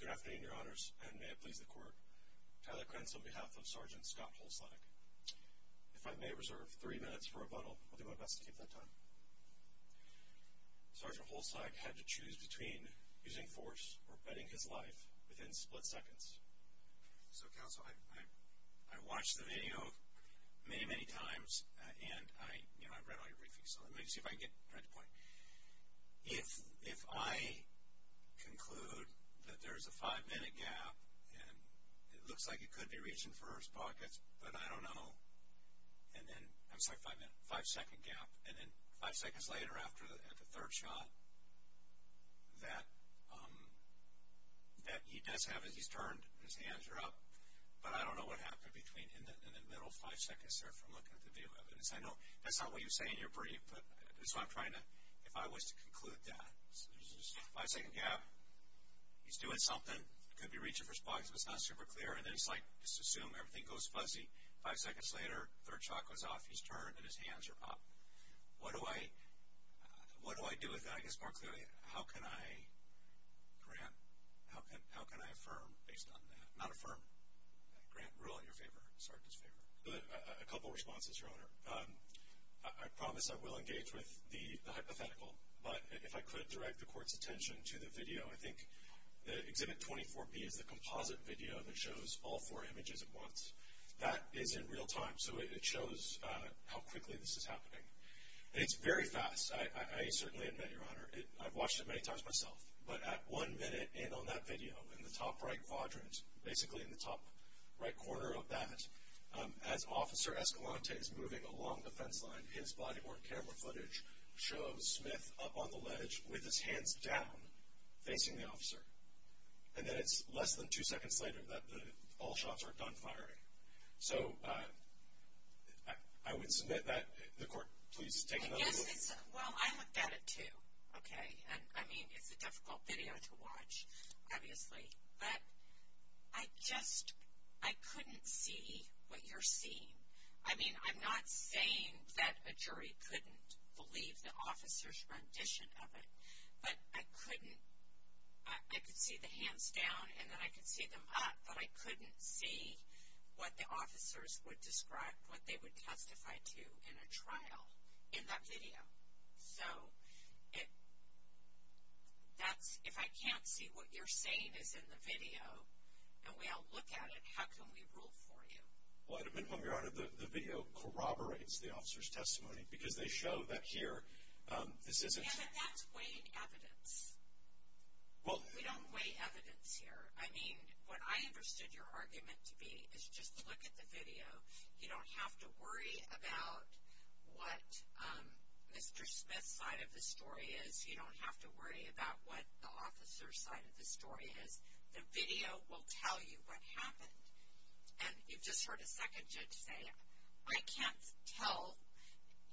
Good afternoon, your honors, and may it please the court. Tyler Krentz on behalf of Sgt. Scott Holslag. If I may reserve three minutes for rebuttal, I'll do my best to keep that time. Sgt. Holslag had to choose between using force or betting his life within split seconds. So, many, many times, and I read all your briefings, so let me see if I can get right to the point. If I conclude that there's a five-minute gap, and it looks like it could be reached in first pockets, but I don't know, and then, I'm sorry, five-second gap, and then five seconds later after the third shot, that he does have, he's turned, his hands are up, but I don't know what happened between in the middle five seconds there from looking at the view evidence. I know that's not what you say in your brief, but that's what I'm trying to, if I was to conclude that, there's a five-second gap, he's doing something, it could be reached in first pockets, but it's not super clear, and then it's like, just assume everything goes fuzzy, five seconds later, third shot goes off, he's turned, and his hands are up. What do I, what do I do with that? I guess more clearly, how can I, Grant, how can I affirm based on that? Not affirm, Grant, rule in your favor, Sarkis' favor. A couple responses, Your Honor. I promise I will engage with the hypothetical, but if I could direct the Court's attention to the video. I think the Exhibit 24B is the composite video that shows all four images at once. That is in real time, so it shows how quickly this is happening. It's very fast. I certainly admit, Your Honor, I've watched it many times myself, but at one minute in on that video, in the top right quadrant, basically in the top right corner of that, as Officer Escalante is moving along the fence line, his body-worn camera footage shows Smith up on the ledge with his hands down, facing the officer, and then it's less than two seconds later that all shots are done firing. So, I would submit that the Court, please take another look. Well, I looked at it, too, okay? I mean, it's a difficult video to watch, obviously, but I just, I couldn't see what you're seeing. I mean, I'm not saying that a jury couldn't believe the officer's rendition of it, but I couldn't, I could see the hands down and then I could see them up, but I couldn't see what the officers would describe, what they would testify to in a trial in that video. So, that's, if I can't see what you're saying is in the video, and we all look at it, how can we rule for you? Well, I admit, Your Honor, the video corroborates the officer's testimony because they show that here, this isn't... Yeah, but that's weighing evidence. We don't weigh evidence here. I mean, what I understood your argument to be is just look at the video. You don't have to worry about what Mr. Smith's side of the story is. You don't have to worry about what the officer's side of the story is. The video will tell you what happened, and you've just heard a second judge say, I can't tell.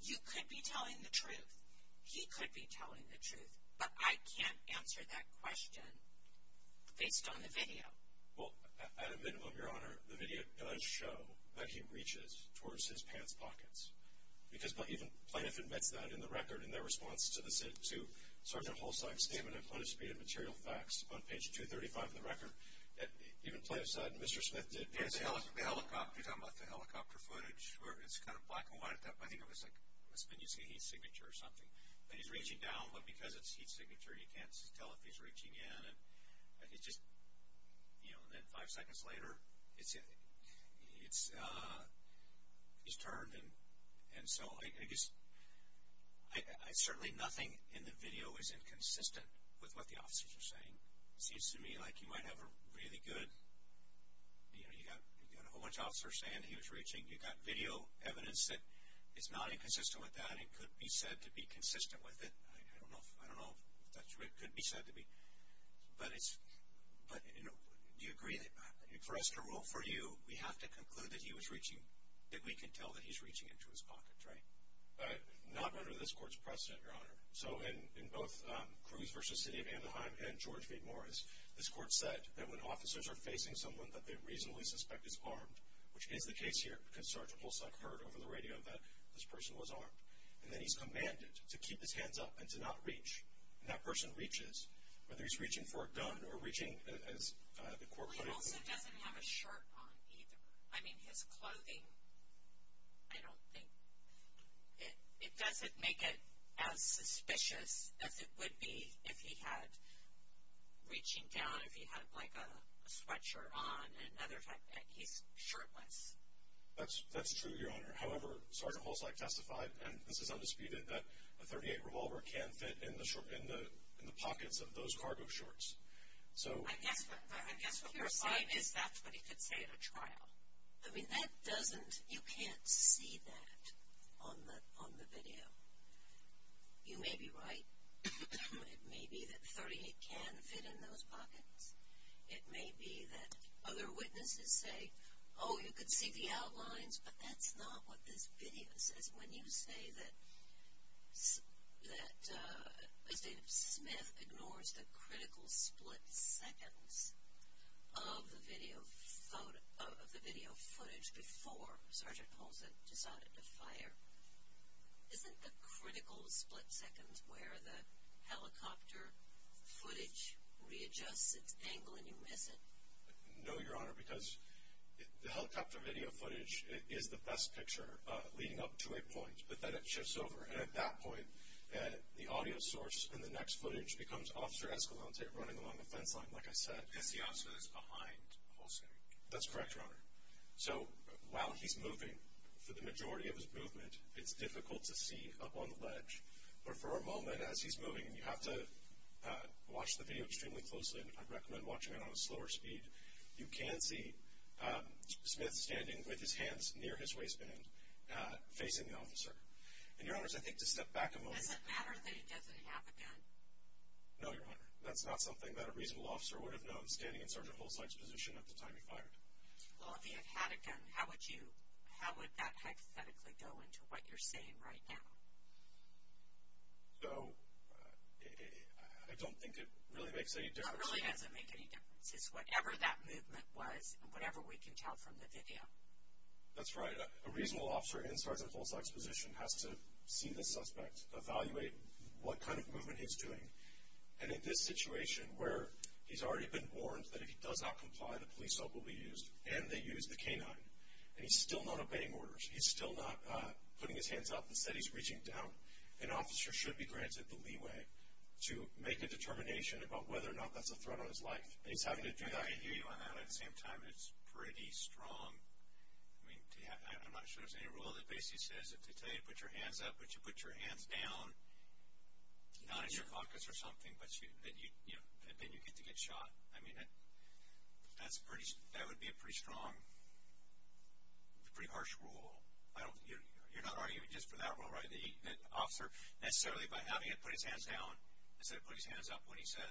You could be telling the truth. He could be telling the truth, but I can't answer that question based on the video. Well, at a minimum, Your Honor, the video does show that he reaches towards his pants pockets, because even Planoff admits that in the record in their response to Sergeant Holstein's statement in Planoff's Speed and Material Facts on page 235 of the record. Even Planoff said Mr. Smith did... Yeah, the helicopter, you're talking about the helicopter footage, where it's kind of black and white. I think it was like, it must have been using a heat signature or something. But he's reaching down, but because it's heat signature, you can't tell if he's reaching in, and it's just, you know, and then five seconds later, it's turned, and so I just, I certainly, nothing in the video is inconsistent with what the officers are saying. It seems to me like you might have a really good, you know, you got a whole bunch of officers saying he was reaching. You got video evidence that it's not inconsistent with that. It could be said to be consistent with it. I don't know, it could be said to be, but it's, but, you know, do you agree that for us to rule for you, we have to conclude that he was reaching, that we can tell that he's reaching into his pockets, right? Not under this court's precedent, Your Honor. So in both Cruz v. City of Anaheim and George V. Morris, this court said that when officers are facing someone that they reasonably suspect is person was armed, and then he's commanded to keep his hands up and to not reach, and that person reaches, whether he's reaching for a gun or reaching, as the court put it. Well, he also doesn't have a shirt on either. I mean, his clothing, I don't think, it doesn't make it as suspicious as it would be if he had, reaching down, if he had like a sweatshirt on, and other, he's shirtless. That's true, Your Honor. However, Sergeant Holzleit testified, and this is undisputed, that a .38 revolver can fit in the pockets of those cargo shorts. So... I guess what you're saying is that's what he could say at a trial. I mean, that doesn't, you can't see that on the video. You may be right. It may be that .38 can fit in the pockets of those cargo shorts. You can see the outlines, but that's not what this video says. When you say that, that Mr. Smith ignores the critical split seconds of the video footage before Sergeant Holzleit decided to fire, isn't the critical split seconds where the helicopter footage readjusts its angle and you miss it? No, Your Honor, because the helicopter video footage is the best picture leading up to a point, but then it shifts over. And at that point, the audio source in the next footage becomes Officer Escalante running along the fence line, like I said. As the officer that's behind Holzleit. That's correct, Your Honor. So while he's moving, for the majority of his movement, it's difficult to see up on the ledge. But for a moment as he's moving, you have to watch the video extremely closely. I'd You can see Smith standing with his hands near his waistband, facing the officer. And Your Honor, I think to step back a moment. Does it matter that he doesn't have a gun? No, Your Honor. That's not something that a reasonable officer would have known standing in Sergeant Holzleit's position at the time he fired. Well, if he had had a gun, how would you, how would that hypothetically go into what you're saying right now? So, I don't think it really makes any difference. It really doesn't make any difference. It's whatever that movement was and whatever we can tell from the video. That's right. A reasonable officer in Sergeant Holzleit's position has to see the suspect, evaluate what kind of movement he's doing. And in this situation where he's already been warned that if he does not comply, the police hope will be used and they use the K-9. And he's still not obeying orders. He's still not putting his hands up and said he's reaching down. An officer should be granted the leeway to make a decision. That's a threat on his life. He's having to do that. I can hear you on that. At the same time, it's pretty strong. I mean, I'm not sure there's any rule that basically says if they tell you to put your hands up, but you put your hands down, not in your pockets or something, but you, you know, then you get to get shot. I mean, that's pretty, that would be a pretty strong, pretty harsh rule. I don't, you're not arguing just for that rule, right? That you, that an officer necessarily by having it put his hands down, instead of putting his hands up when he said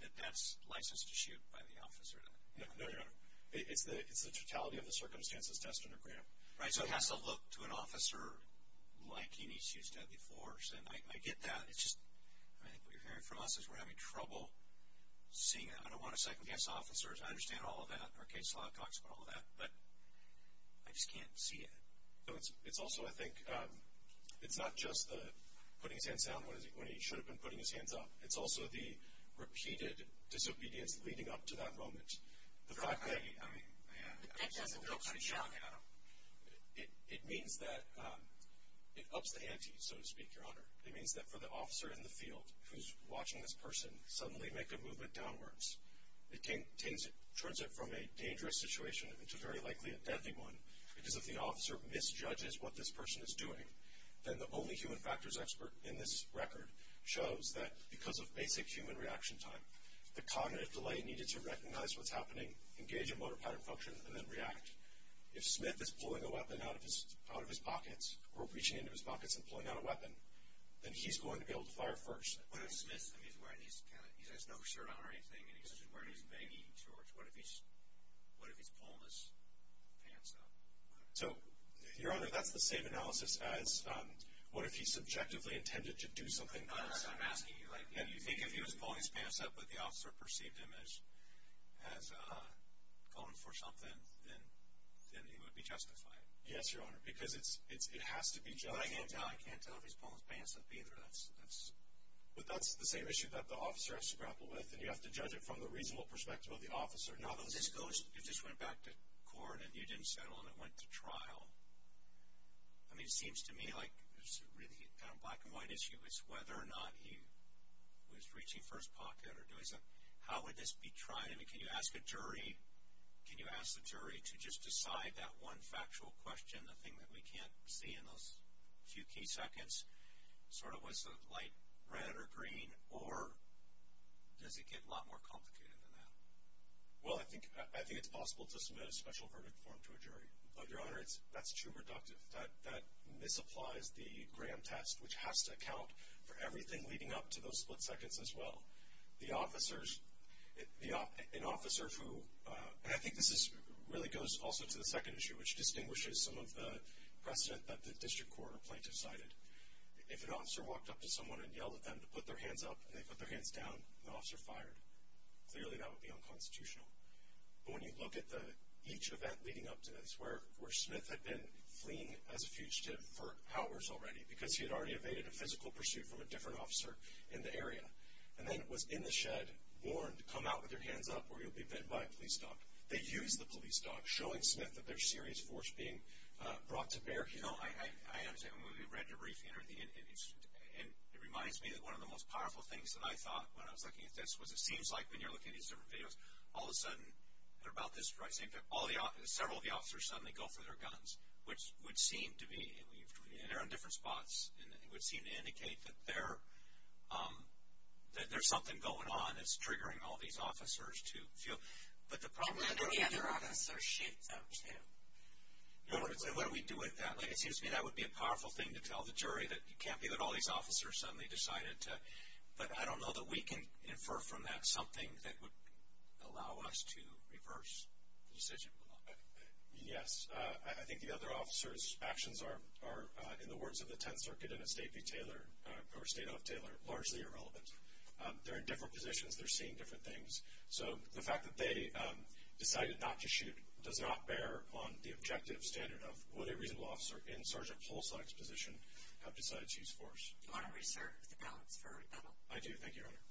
that that's licensed to shoot by the officer. No, no, no, no. It's the, it's the totality of the circumstances test and a grant. Right. So it has to look to an officer like he needs to use deadly force. And I get that. It's just, I mean, what you're hearing from us is we're having trouble seeing it. I don't want to second guess officers. I understand all of that. Our case law talks about all of that, but I just can't see it. So it's, it's also, I think, it's not just the putting his hands down when he should have been putting his hands up. It's also the repeated disobedience leading up to that moment. The fact that he, I mean, it means that it ups the ante, so to speak, Your Honor. It means that for the officer in the field who's watching this person suddenly make a movement downwards, it turns it from a dangerous situation into very likely a deadly one. Because if the officer misjudges what this person is doing, then the only human factors expert in this record shows that because of basic human reaction time, the cognitive delay needed to recognize what's happening, engage in motor pattern function, and then react. If Smith is pulling a weapon out of his, out of his pockets, or reaching into his pockets and pulling out a weapon, then he's going to be able to fire first. What if Smith, I mean, he's wearing, he's kind of, he has no shirt on or anything, and he's just wearing his pants up? So, Your Honor, that's the same analysis as what if he subjectively intended to do something else. I'm asking you, like, do you think if he was pulling his pants up, but the officer perceived him as, as going for something, then it would be justified? Yes, Your Honor, because it's, it has to be judged. I can't tell if he's pulling his pants up either. That's, that's, but that's the same issue that the officer has to grapple with, and you have to judge it from the reasonable perspective of the officer. Now, if this goes, if this went back to court, and you didn't settle, and it went to trial, I mean, it seems to me like there's a really kind of black and white issue is whether or not he was reaching first pocket or doing something. How would this be tried? I mean, can you ask a jury, can you ask the jury to just decide that one factual question, the thing that we can't see in those few key seconds, sort of was the light red or green, or does it get a lot more complicated than that? Well, I think, I think it's possible to submit a special verdict form to a jury, but, Your Honor, it's, that's too reductive. That, that misapplies the Graham test, which has to account for everything leading up to those split seconds as well. The officers, the, an officer who, and I think this is, really goes also to the second issue, which distinguishes some of the precedent that the district court or plaintiff cited. If an officer walked up to someone and yelled at them to put their hands up, and they put their hands down, the officer fired. Clearly, that would be unconstitutional. But when you look at the, each event leading up to this, where, where Smith had been fleeing as a fugitive for hours already, because he had already evaded a physical pursuit from a different officer in the area, and then was in the shed, warned, come out with your hands up, or you'll be bit by a police dog. They used the police dog, showing Smith that there's serious force being brought to bear. You know, I, I, I understand. When we read the briefing, and, and it reminds me that one of the most powerful things that I thought when I was looking at this, was it seems like when you're looking at these different videos, all of a sudden, they're about this, right, same thing, all the, several of the officers suddenly go for their guns, which would seem to be, and we've, and they're in different spots, and it would seem to indicate that they're, that there's something going on that's triggering all these officers to feel, but the problem is that... And let any other officer shoot them, too. No, but what do we do with that? Like, it seems to me that would be a powerful thing to tell the jury, that it can't be that all these officers suddenly decided to, but I don't know that we can infer from that something that would allow us to reverse the decision. Yes, I think the other officers' actions are, are, in the words of the 10th Circuit and of State v. Taylor, or State of Taylor, largely irrelevant. They're in different positions, they're seeing different things, so the fact that they decided not to shoot does not bear on the judge. Do you want to reserve the balance for a rebuttal? I do, thank you, Your Honor.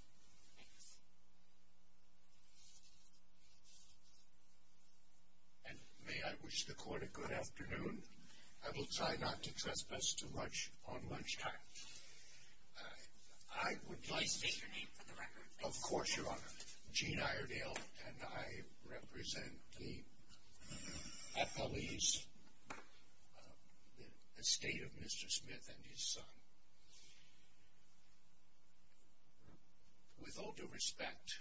Thanks. And may I wish the court a good afternoon? I will try not to trespass too much on lunchtime. I would like... Please state your name for the record. Of course, Your Honor. Gene Iredale, and I represent the appellees, the estate of Mr. Smith and his son. With all due respect,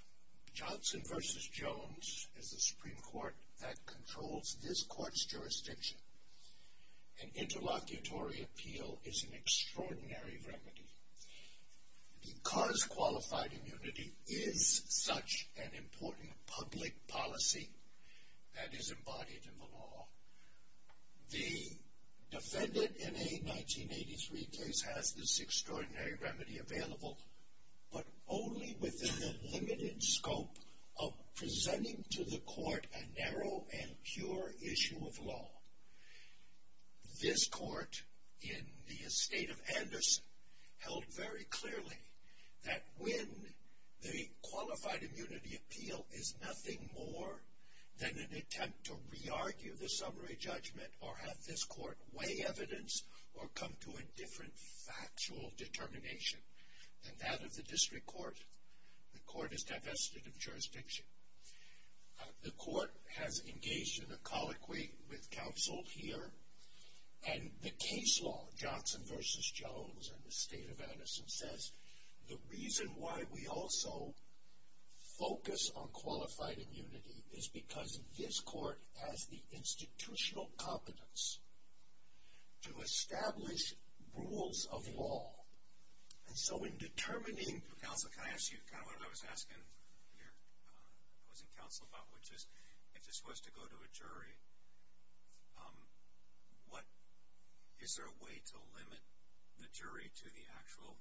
Johnson v. Jones is the Supreme Court that controls this court's jurisdiction, and interlocutory appeal is an extraordinary remedy. Because qualified immunity is such an important public policy that is embodied in the law, the defendant in a 1983 case has this extraordinary remedy available, but only within the limited scope of presenting to the court a narrow and pure issue of law. This court in the estate of Anderson held very clearly that when the qualified immunity appeal is nothing more than an attempt to re-argue the summary judgment or have this court weigh evidence or come to a different factual determination than that of the district court, the court is divested of jurisdiction. The court has engaged in a colloquy with counsel here, and the case law, Johnson v. Jones and the estate of Anderson, says the reason why we also focus on qualified immunity is because this court has the institutional competence to establish rules of law. And so in determining... Counsel, can I ask you kind of what I was asking your opposing counsel about, which is if this was to go to a jury, what is there a way to limit the jury to the actual...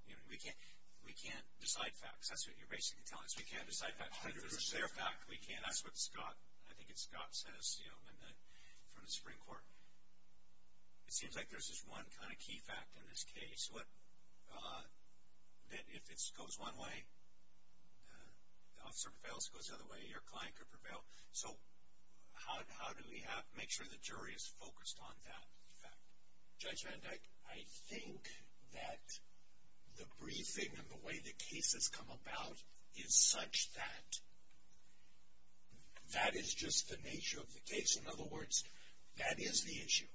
We can't decide facts. That's what you're basically telling us. We can't decide facts. If there's a fair fact, we can't. That's what Scott, I think it's Scott, says from the Supreme Court. It seems like there's this one kind of key fact in this case that if it goes one way, the officer prevails. If it goes the other way, your client could prevail. So how do we make sure the jury is focused on that fact? Judge Van Dyke, I think that the briefing and the way the case has come about is such that that is just the nature of the case. In other words, that is the issue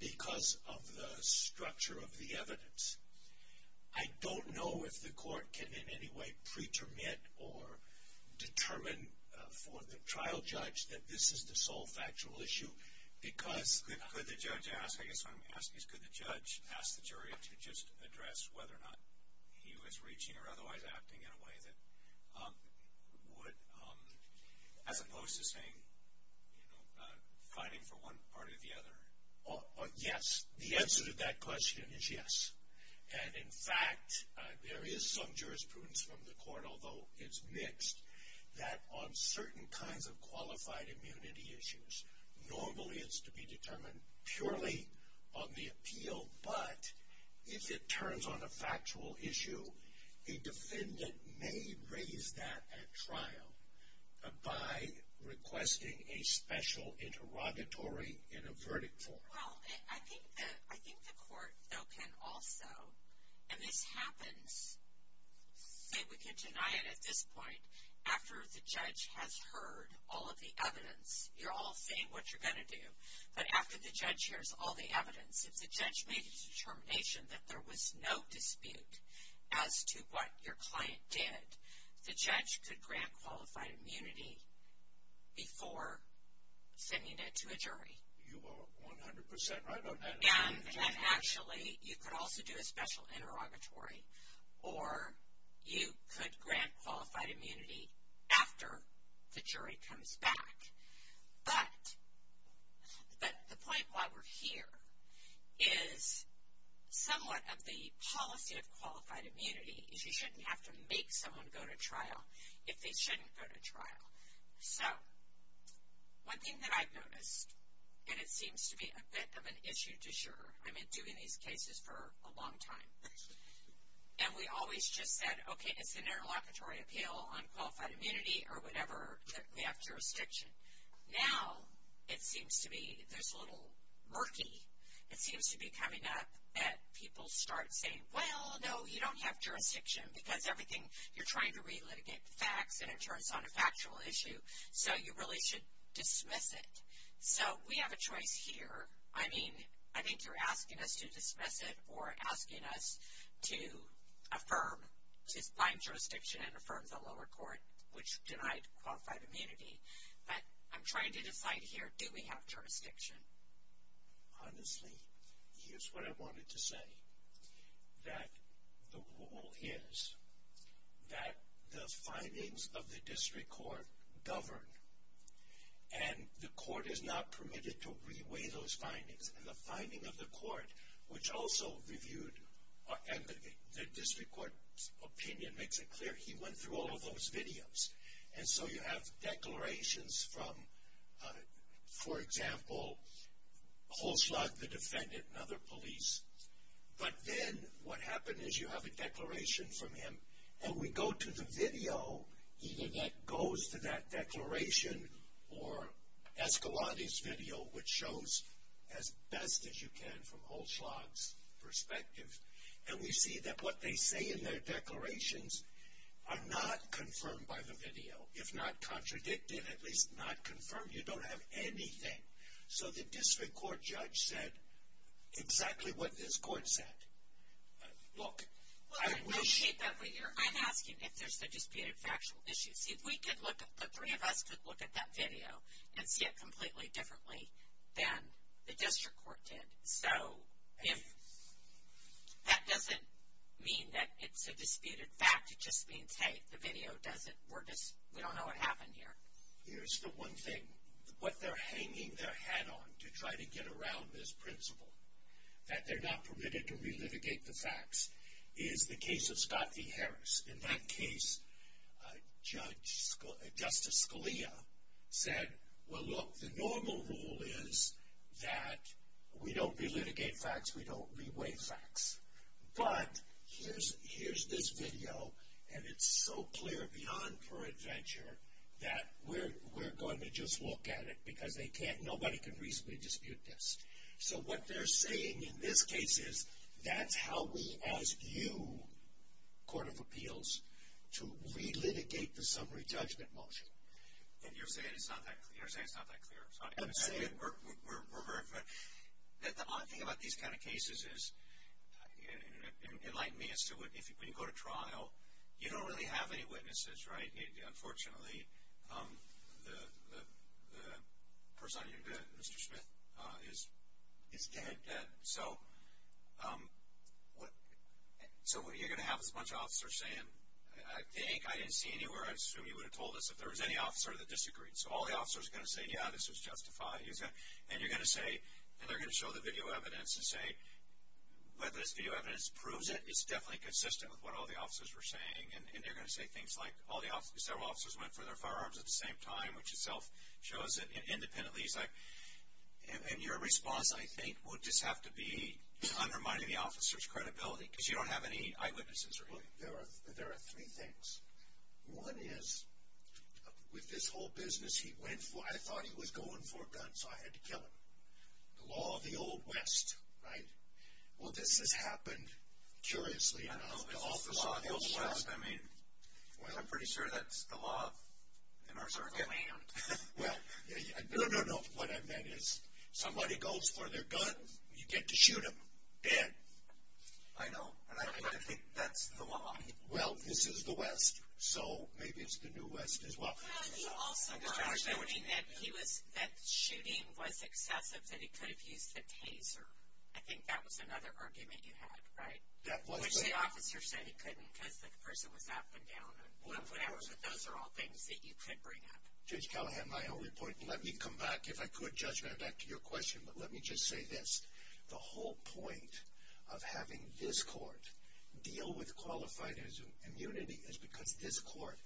because of the structure of the evidence. I don't know if the court can in any way pretermit or determine for the trial judge that this is the sole factual issue because... Could the judge ask, I guess what I'm asking is could the judge ask the jury to just address whether or not he was reaching or otherwise acting in a way that would, as opposed to saying, you know, fighting for one part or the other? Yes. The answer to that question is yes. And, in fact, there is some jurisprudence from the court, although it's mixed, that on certain kinds of qualified immunity issues, normally it's to be determined purely on the appeal, but if it turns on a factual issue, a defendant may raise that at trial by requesting a special interrogatory in a verdict form. Well, I think the court, though, can also, and this happens, say we can deny it at this point, after the judge has heard all of the evidence. You're all saying what you're going to do, but after the judge hears all the evidence, if the judge made a determination that there was no dispute as to what your client did, the judge could grant qualified immunity before sending it to a jury. You are 100% right on that. And, actually, you could also do a special interrogatory, or you could grant qualified immunity after the jury comes back. But the point why we're here is somewhat of the policy of qualified immunity is you shouldn't have to make someone go to trial So, one thing that I've noticed, and it seems to be a bit of an issue to share, I've been doing these cases for a long time, and we always just said, okay, it's an interlocutory appeal on qualified immunity or whatever, we have jurisdiction. Now, it seems to be this little murky, it seems to be coming up that people start saying, well, no, you don't have jurisdiction because everything, you're trying to relitigate the facts, and it turns on a factual issue, so you really should dismiss it. So, we have a choice here. I mean, I think you're asking us to dismiss it or asking us to affirm, to find jurisdiction and affirm the lower court, which denied qualified immunity. But I'm trying to decide here, do we have jurisdiction? Honestly, here's what I wanted to say, that the rule is that the findings of the district court govern, and the court is not permitted to re-weigh those findings. And the finding of the court, which also reviewed, and the district court's opinion makes it clear, he went through all of those videos. And so, you have declarations from, for example, Holzschlag, the defendant, and other police. But then, what happened is you have a declaration from him, and we go to the video, either that goes to that declaration or Escalante's video, which shows as best as you can from Holzschlag's perspective. And we see that what they say in their declarations are not confirmed by the video, if not contradicted, at least not confirmed. You don't have anything. So, the district court judge said exactly what this court said. Look, I wish. I'm asking if there's a disputed factual issue. See, if we could look at, the three of us could look at that video and see it completely differently than the district court did. So, if, that doesn't mean that it's a disputed fact. It just means, hey, the video doesn't, we're just, we don't know what happened here. Here's the one thing. What they're hanging their hat on to try to get around this principle, that they're not permitted to relitigate the facts, is the case of Scott v. Harris. In that case, Judge, Justice Scalia said, well, look, the normal rule is that we don't relitigate facts, we don't re-weigh facts. But, here's this video, and it's so clear beyond pure adventure, that we're going to just look at it because they can't, nobody can reasonably dispute this. So, what they're saying in this case is, that's how we ask you, Court of Appeals, to relitigate the summary judgment motion. And you're saying it's not that clear. You're saying it's not that clear. I'm saying we're very clear. The odd thing about these kind of cases is, it might mean as to when you go to trial, you don't really have any witnesses, right? I mean, unfortunately, the person I interviewed, Mr. Smith, is dead. So, what are you going to have is a bunch of officers saying, I think, I didn't see anywhere, I assume you would have told us if there was any officer that disagreed. So, all the officers are going to say, yeah, this was justified. And you're going to say, and they're going to show the video evidence and say, whether this video evidence proves it, it's definitely consistent with what all the officers were saying. And they're going to say things like, several officers went for their firearms at the same time, which itself shows it independently. And your response, I think, would just have to be undermining the officer's credibility, because you don't have any eyewitnesses or anything. There are three things. One is, with this whole business he went for, I thought he was going for a gun, so I had to kill him. The law of the Old West, right? Well, this has happened, curiously enough. The law of the Old West, I mean, I'm pretty sure that's the law in our circle. Well, no, no, no. What I meant is, somebody goes for their gun, you get to shoot them dead. I know, and I think that's the law. Well, this is the West, so maybe it's the New West as well. He also got a warning that shooting was excessive, that he could have used a taser. I think that was another argument you had, right? Which the officer said he couldn't, because the person was up and down. But those are all things that you could bring up. Judge Callahan, my only point, and let me come back, if I could, Judge, right back to your question, but let me just say this. The whole point of having this court deal with qualified immunity is because this court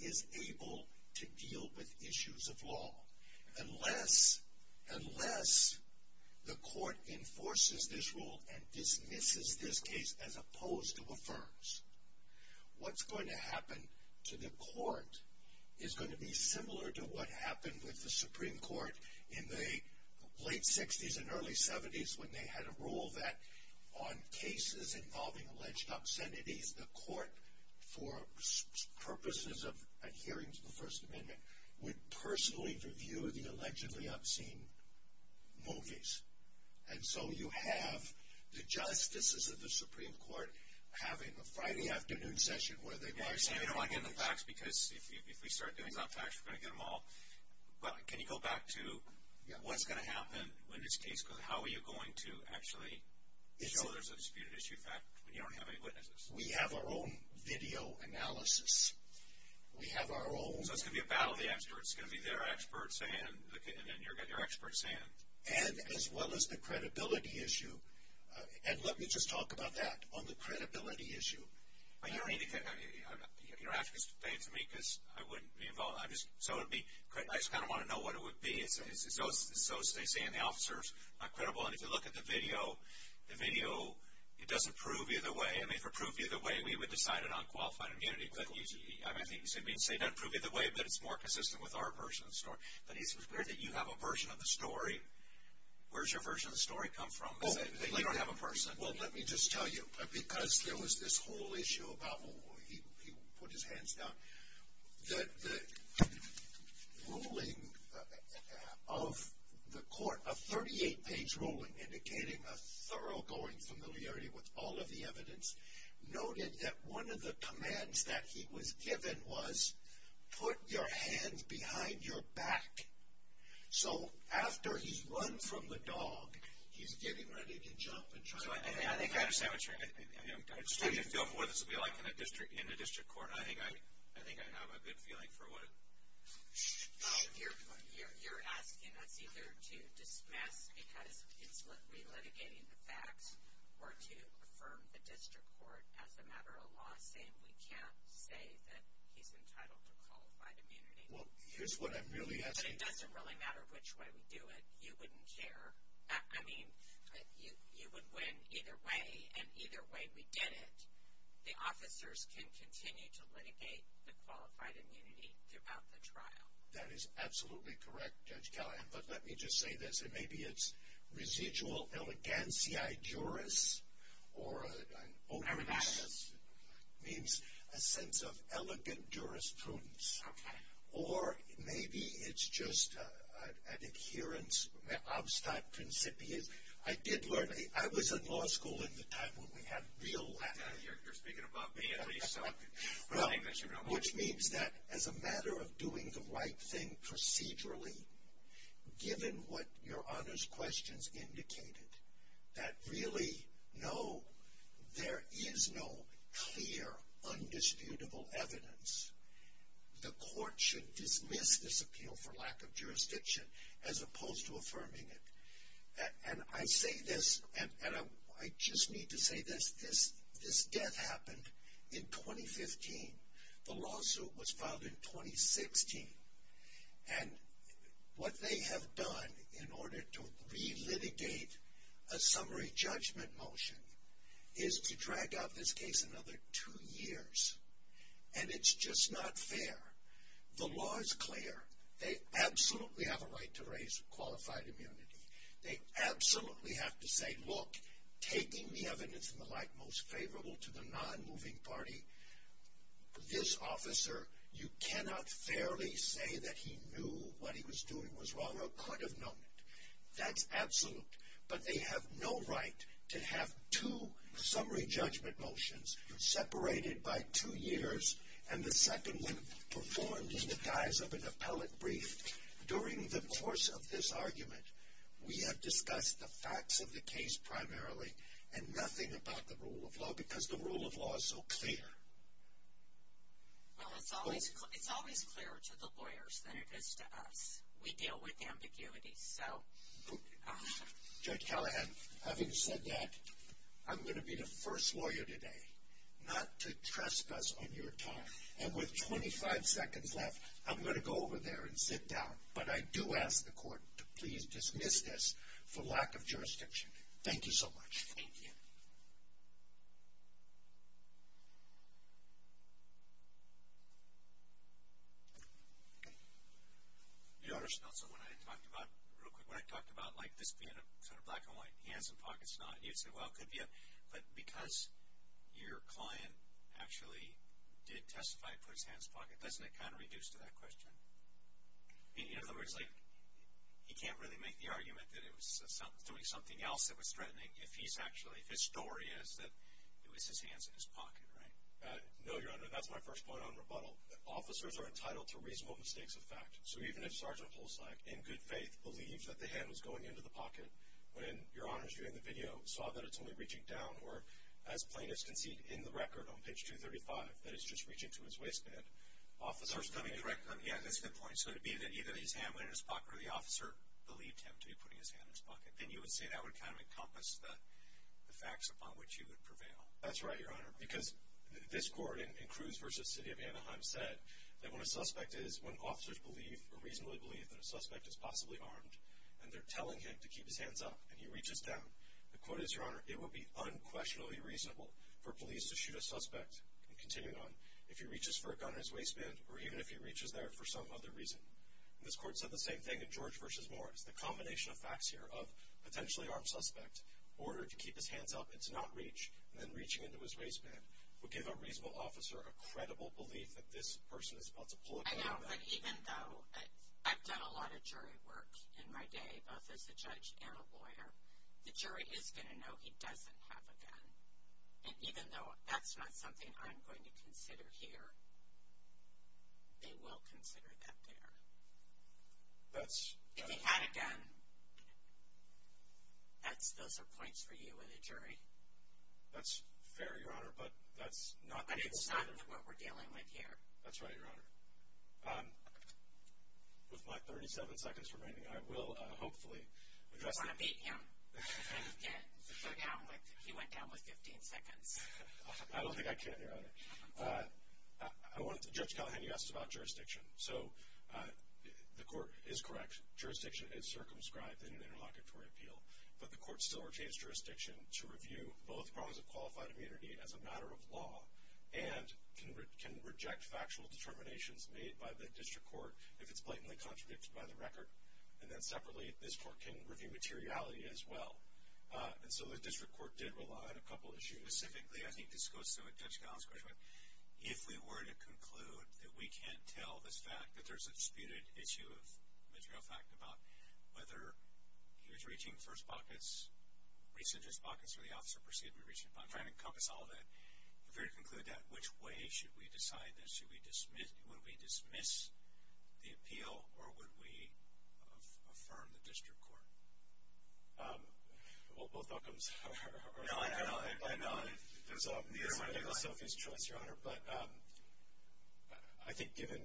is able to deal with issues of law. Unless the court enforces this rule and dismisses this case as opposed to affirms, what's going to happen to the court is going to be similar to what happened with the Supreme Court in the late 60s and early 70s when they had a rule that on cases involving alleged obscenities, the court for purposes of adhering to the First Amendment would personally review the allegedly obscene movies. And so you have the justices of the Supreme Court having a Friday afternoon session where they are saying all these things. I don't want to get into facts, because if we start doing things on facts, we're going to get them all. But can you go back to what's going to happen in this case, because how are you going to actually show there's a disputed issue fact when you don't have any witnesses? We have our own video analysis. We have our own... So it's going to be a battle of the experts. It's going to be their experts and your experts. And as well as the credibility issue. And let me just talk about that on the credibility issue. You don't have to explain it to me, because I wouldn't be involved. I just kind of want to know what it would be. As they say in the officers, it's not credible. And if you look at the video, it doesn't prove either way. If it proved either way, we would decide it on qualified immunity. I think you said it doesn't prove either way, but it's more consistent with our version of the story. But it's weird that you have a version of the story. Where's your version of the story come from? You don't have a person. Well, let me just tell you, because there was this whole issue about... He put his hands down. The ruling of the court, a 38-page ruling, indicating a thoroughgoing familiarity with all of the evidence, noted that one of the commands that he was given was, put your hands behind your back. So after he's run from the dog, he's getting ready to jump and try to... I understand what you're saying. I just want you to feel for what this will be like in a district court. I think I have a good feeling for what it should be. You're asking us either to dismiss because it's literally litigating the facts or to affirm the district court as a matter of law, saying we can't say that he's entitled to qualified immunity. Well, here's what I'm really asking. But it doesn't really matter which way we do it. You wouldn't care. I mean, you would win either way, and either way we did it, the officers can continue to litigate the qualified immunity throughout the trial. That is absolutely correct, Judge Callahan. But let me just say this. I don't know whether maybe it's residual eleganciai juris or an onus. It means a sense of elegant jurisprudence. Or maybe it's just an adherence obstate principia. I did learn, I was in law school at the time when we had real... You're speaking above me at least. Which means that as a matter of doing the right thing procedurally, given what your onus questions indicated, that really, no, there is no clear, undisputable evidence. The court should dismiss this appeal for lack of jurisdiction as opposed to affirming it. And I say this, and I just need to say this. This death happened in 2015. The lawsuit was filed in 2016. And what they have done in order to re-litigate a summary judgment motion is to drag out this case another two years. And it's just not fair. The law is clear. They absolutely have a right to raise qualified immunity. They absolutely have to say, look, taking the evidence in the light most favorable to the non-moving party, this officer, you cannot fairly say that he knew what he was doing was wrong or could have known it. That's absolute. But they have no right to have two summary judgment motions separated by two years and the second one performed in the guise of an appellate brief. During the course of this argument, we have discussed the facts of the case primarily and nothing about the rule of law because the rule of law is so clear. Well, it's always clearer to the lawyers than it is to us. We deal with ambiguity. Judge Callahan, having said that, I'm going to be the first lawyer today not to trespass on your time. And with 25 seconds left, I'm going to go over there and sit down. But I do ask the court to please dismiss this for lack of jurisdiction. Thank you so much. Thank you. Okay. Your Honor, so when I talked about, real quick, when I talked about, like, this being a sort of black and white, hands and pockets not, you said, well, it could be a, but because your client actually did testify for his hands and pocket, doesn't it kind of reduce to that question? In other words, like, he can't really make the argument that he was doing something else that was threatening if he's actually, if his story is that it was his hands and his pocket, right? No, Your Honor. That's my first point on rebuttal. Officers are entitled to reasonable mistakes of fact. So even if Sgt. Polsak, in good faith, believes that the hand was going into the pocket when, Your Honor, during the video saw that it's only reaching down or, as plaintiffs concede in the record on page 235, that it's just reaching to his waistband, officers could be correct on the end. That's a good point. So it would be that either his hand went in his pocket or the officer believed him to be putting his hand in his pocket. Then you would say that would kind of encompass the facts upon which he would prevail. That's right, Your Honor, because this court in Cruz v. City of Anaheim said that when a suspect is, when officers believe or reasonably believe that a suspect is possibly armed and they're telling him to keep his hands up and he reaches down, the quote is, Your Honor, it would be unquestionably reasonable for police to shoot a suspect and continue on if he reaches for a gun in his waistband or even if he reaches there for some other reason. This court said the same thing in George v. Morris. The combination of facts here of potentially armed suspect, ordered to keep his hands up and to not reach, and then reaching into his waistband would give a reasonable officer a credible belief that this person is about to pull a gun at him. I know, but even though I've done a lot of jury work in my day, both as a judge and a lawyer, the jury is going to know he doesn't have a gun. And even though that's not something I'm going to consider here, they will consider that there. That's... If he had a gun, those are points for you and the jury. That's fair, Your Honor, but that's not... But it's not what we're dealing with here. That's right, Your Honor. With my 37 seconds remaining, I will hopefully address... You want to beat him. He went down with 15 seconds. I don't think I can, Your Honor. I wanted to... Judge Callahan, you asked about jurisdiction. So the court is correct. Jurisdiction is circumscribed in an interlocutory appeal, but the court still retains jurisdiction to review both prongs of qualified immunity as a matter of law and can reject factual determinations made by the district court if it's blatantly contradicted by the record. And then separately, this court can review materiality as well. And so the district court did rely on a couple issues. Specifically, I think this goes to what Judge Gallin's question was, if we were to conclude that we can't tell this fact, that there's a disputed issue of material fact about whether he was reaching first pockets, reached his pockets, or the officer proceeded to be reaching... I'm trying to encompass all of that. If we were to conclude that, which way should we decide this? Should we dismiss... Would we dismiss the appeal, or would we affirm the district court? Well, both outcomes are... No, I know. I know. It was Sophie's choice, Your Honor. But I think, given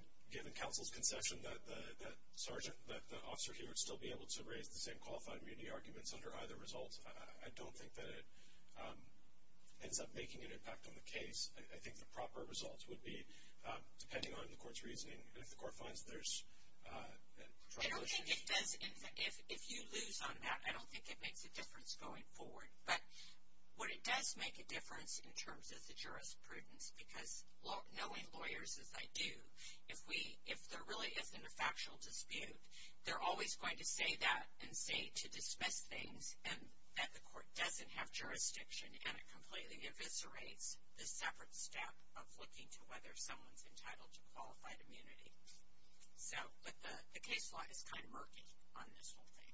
counsel's concession, that the officer here would still be able to raise the same qualified immunity arguments under either result. I don't think that it ends up making an impact on the case. I think the proper results would be, depending on the court's reasoning, if the court finds there's... I don't think it does. If you lose on that, I don't think it makes a difference going forward. But what it does make a difference in terms of the jurisprudence, because knowing lawyers, as I do, if there really isn't a factual dispute, they're always going to say that and say to dismiss things, and that the court doesn't have jurisdiction, and it completely eviscerates the separate step of looking to whether someone's entitled to qualified immunity. But the case law is kind of murky on this whole thing.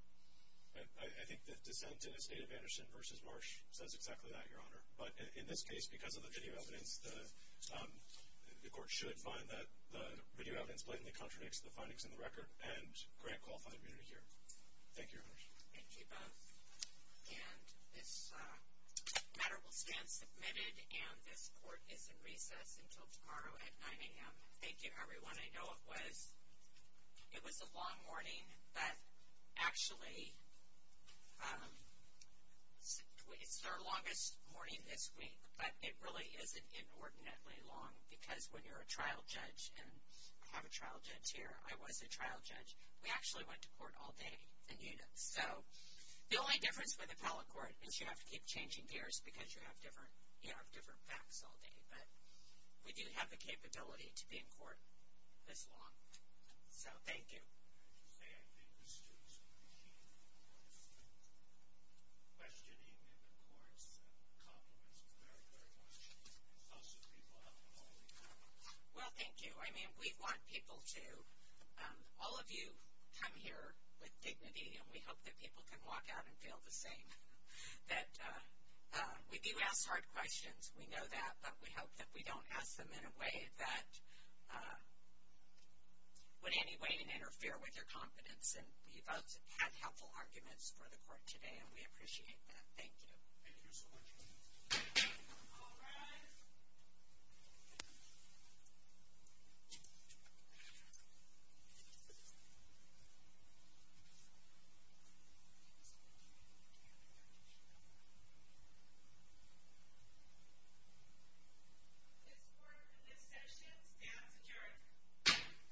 I think the dissent in the state of Anderson v. Marsh says exactly that, Your Honor. But in this case, because of the video evidence, the court should find that the video evidence blatantly contradicts the findings in the record and grant qualified immunity here. Thank you, Your Honor. Thank you both. And this matter will stand submitted, and this court is in recess until tomorrow at 9 a.m. Thank you, everyone. I know it was a long morning, but actually it's our longest morning this week, but it really isn't inordinately long, because when you're a trial judge, and I have a trial judge here, I was a trial judge, we actually went to court all day in units. So the only difference with appellate court is you have to keep changing gears because you have different facts all day, but we do have the capability to be in court this long. So thank you. I have to say, I think the students appreciate the questioning in the courts. The compliments were very, very much. Also, people have been awfully kind. Well, thank you. I mean, we want people to, all of you come here with dignity, and we hope that people can walk out and feel the same, that we do ask hard questions. We know that, but we hope that we don't ask them in a way that would in any way interfere with their confidence. And we've had helpful arguments for the court today, and we appreciate that. Thank you. Thank you so much. All rise. Thank you. This court and this session stands adjourned.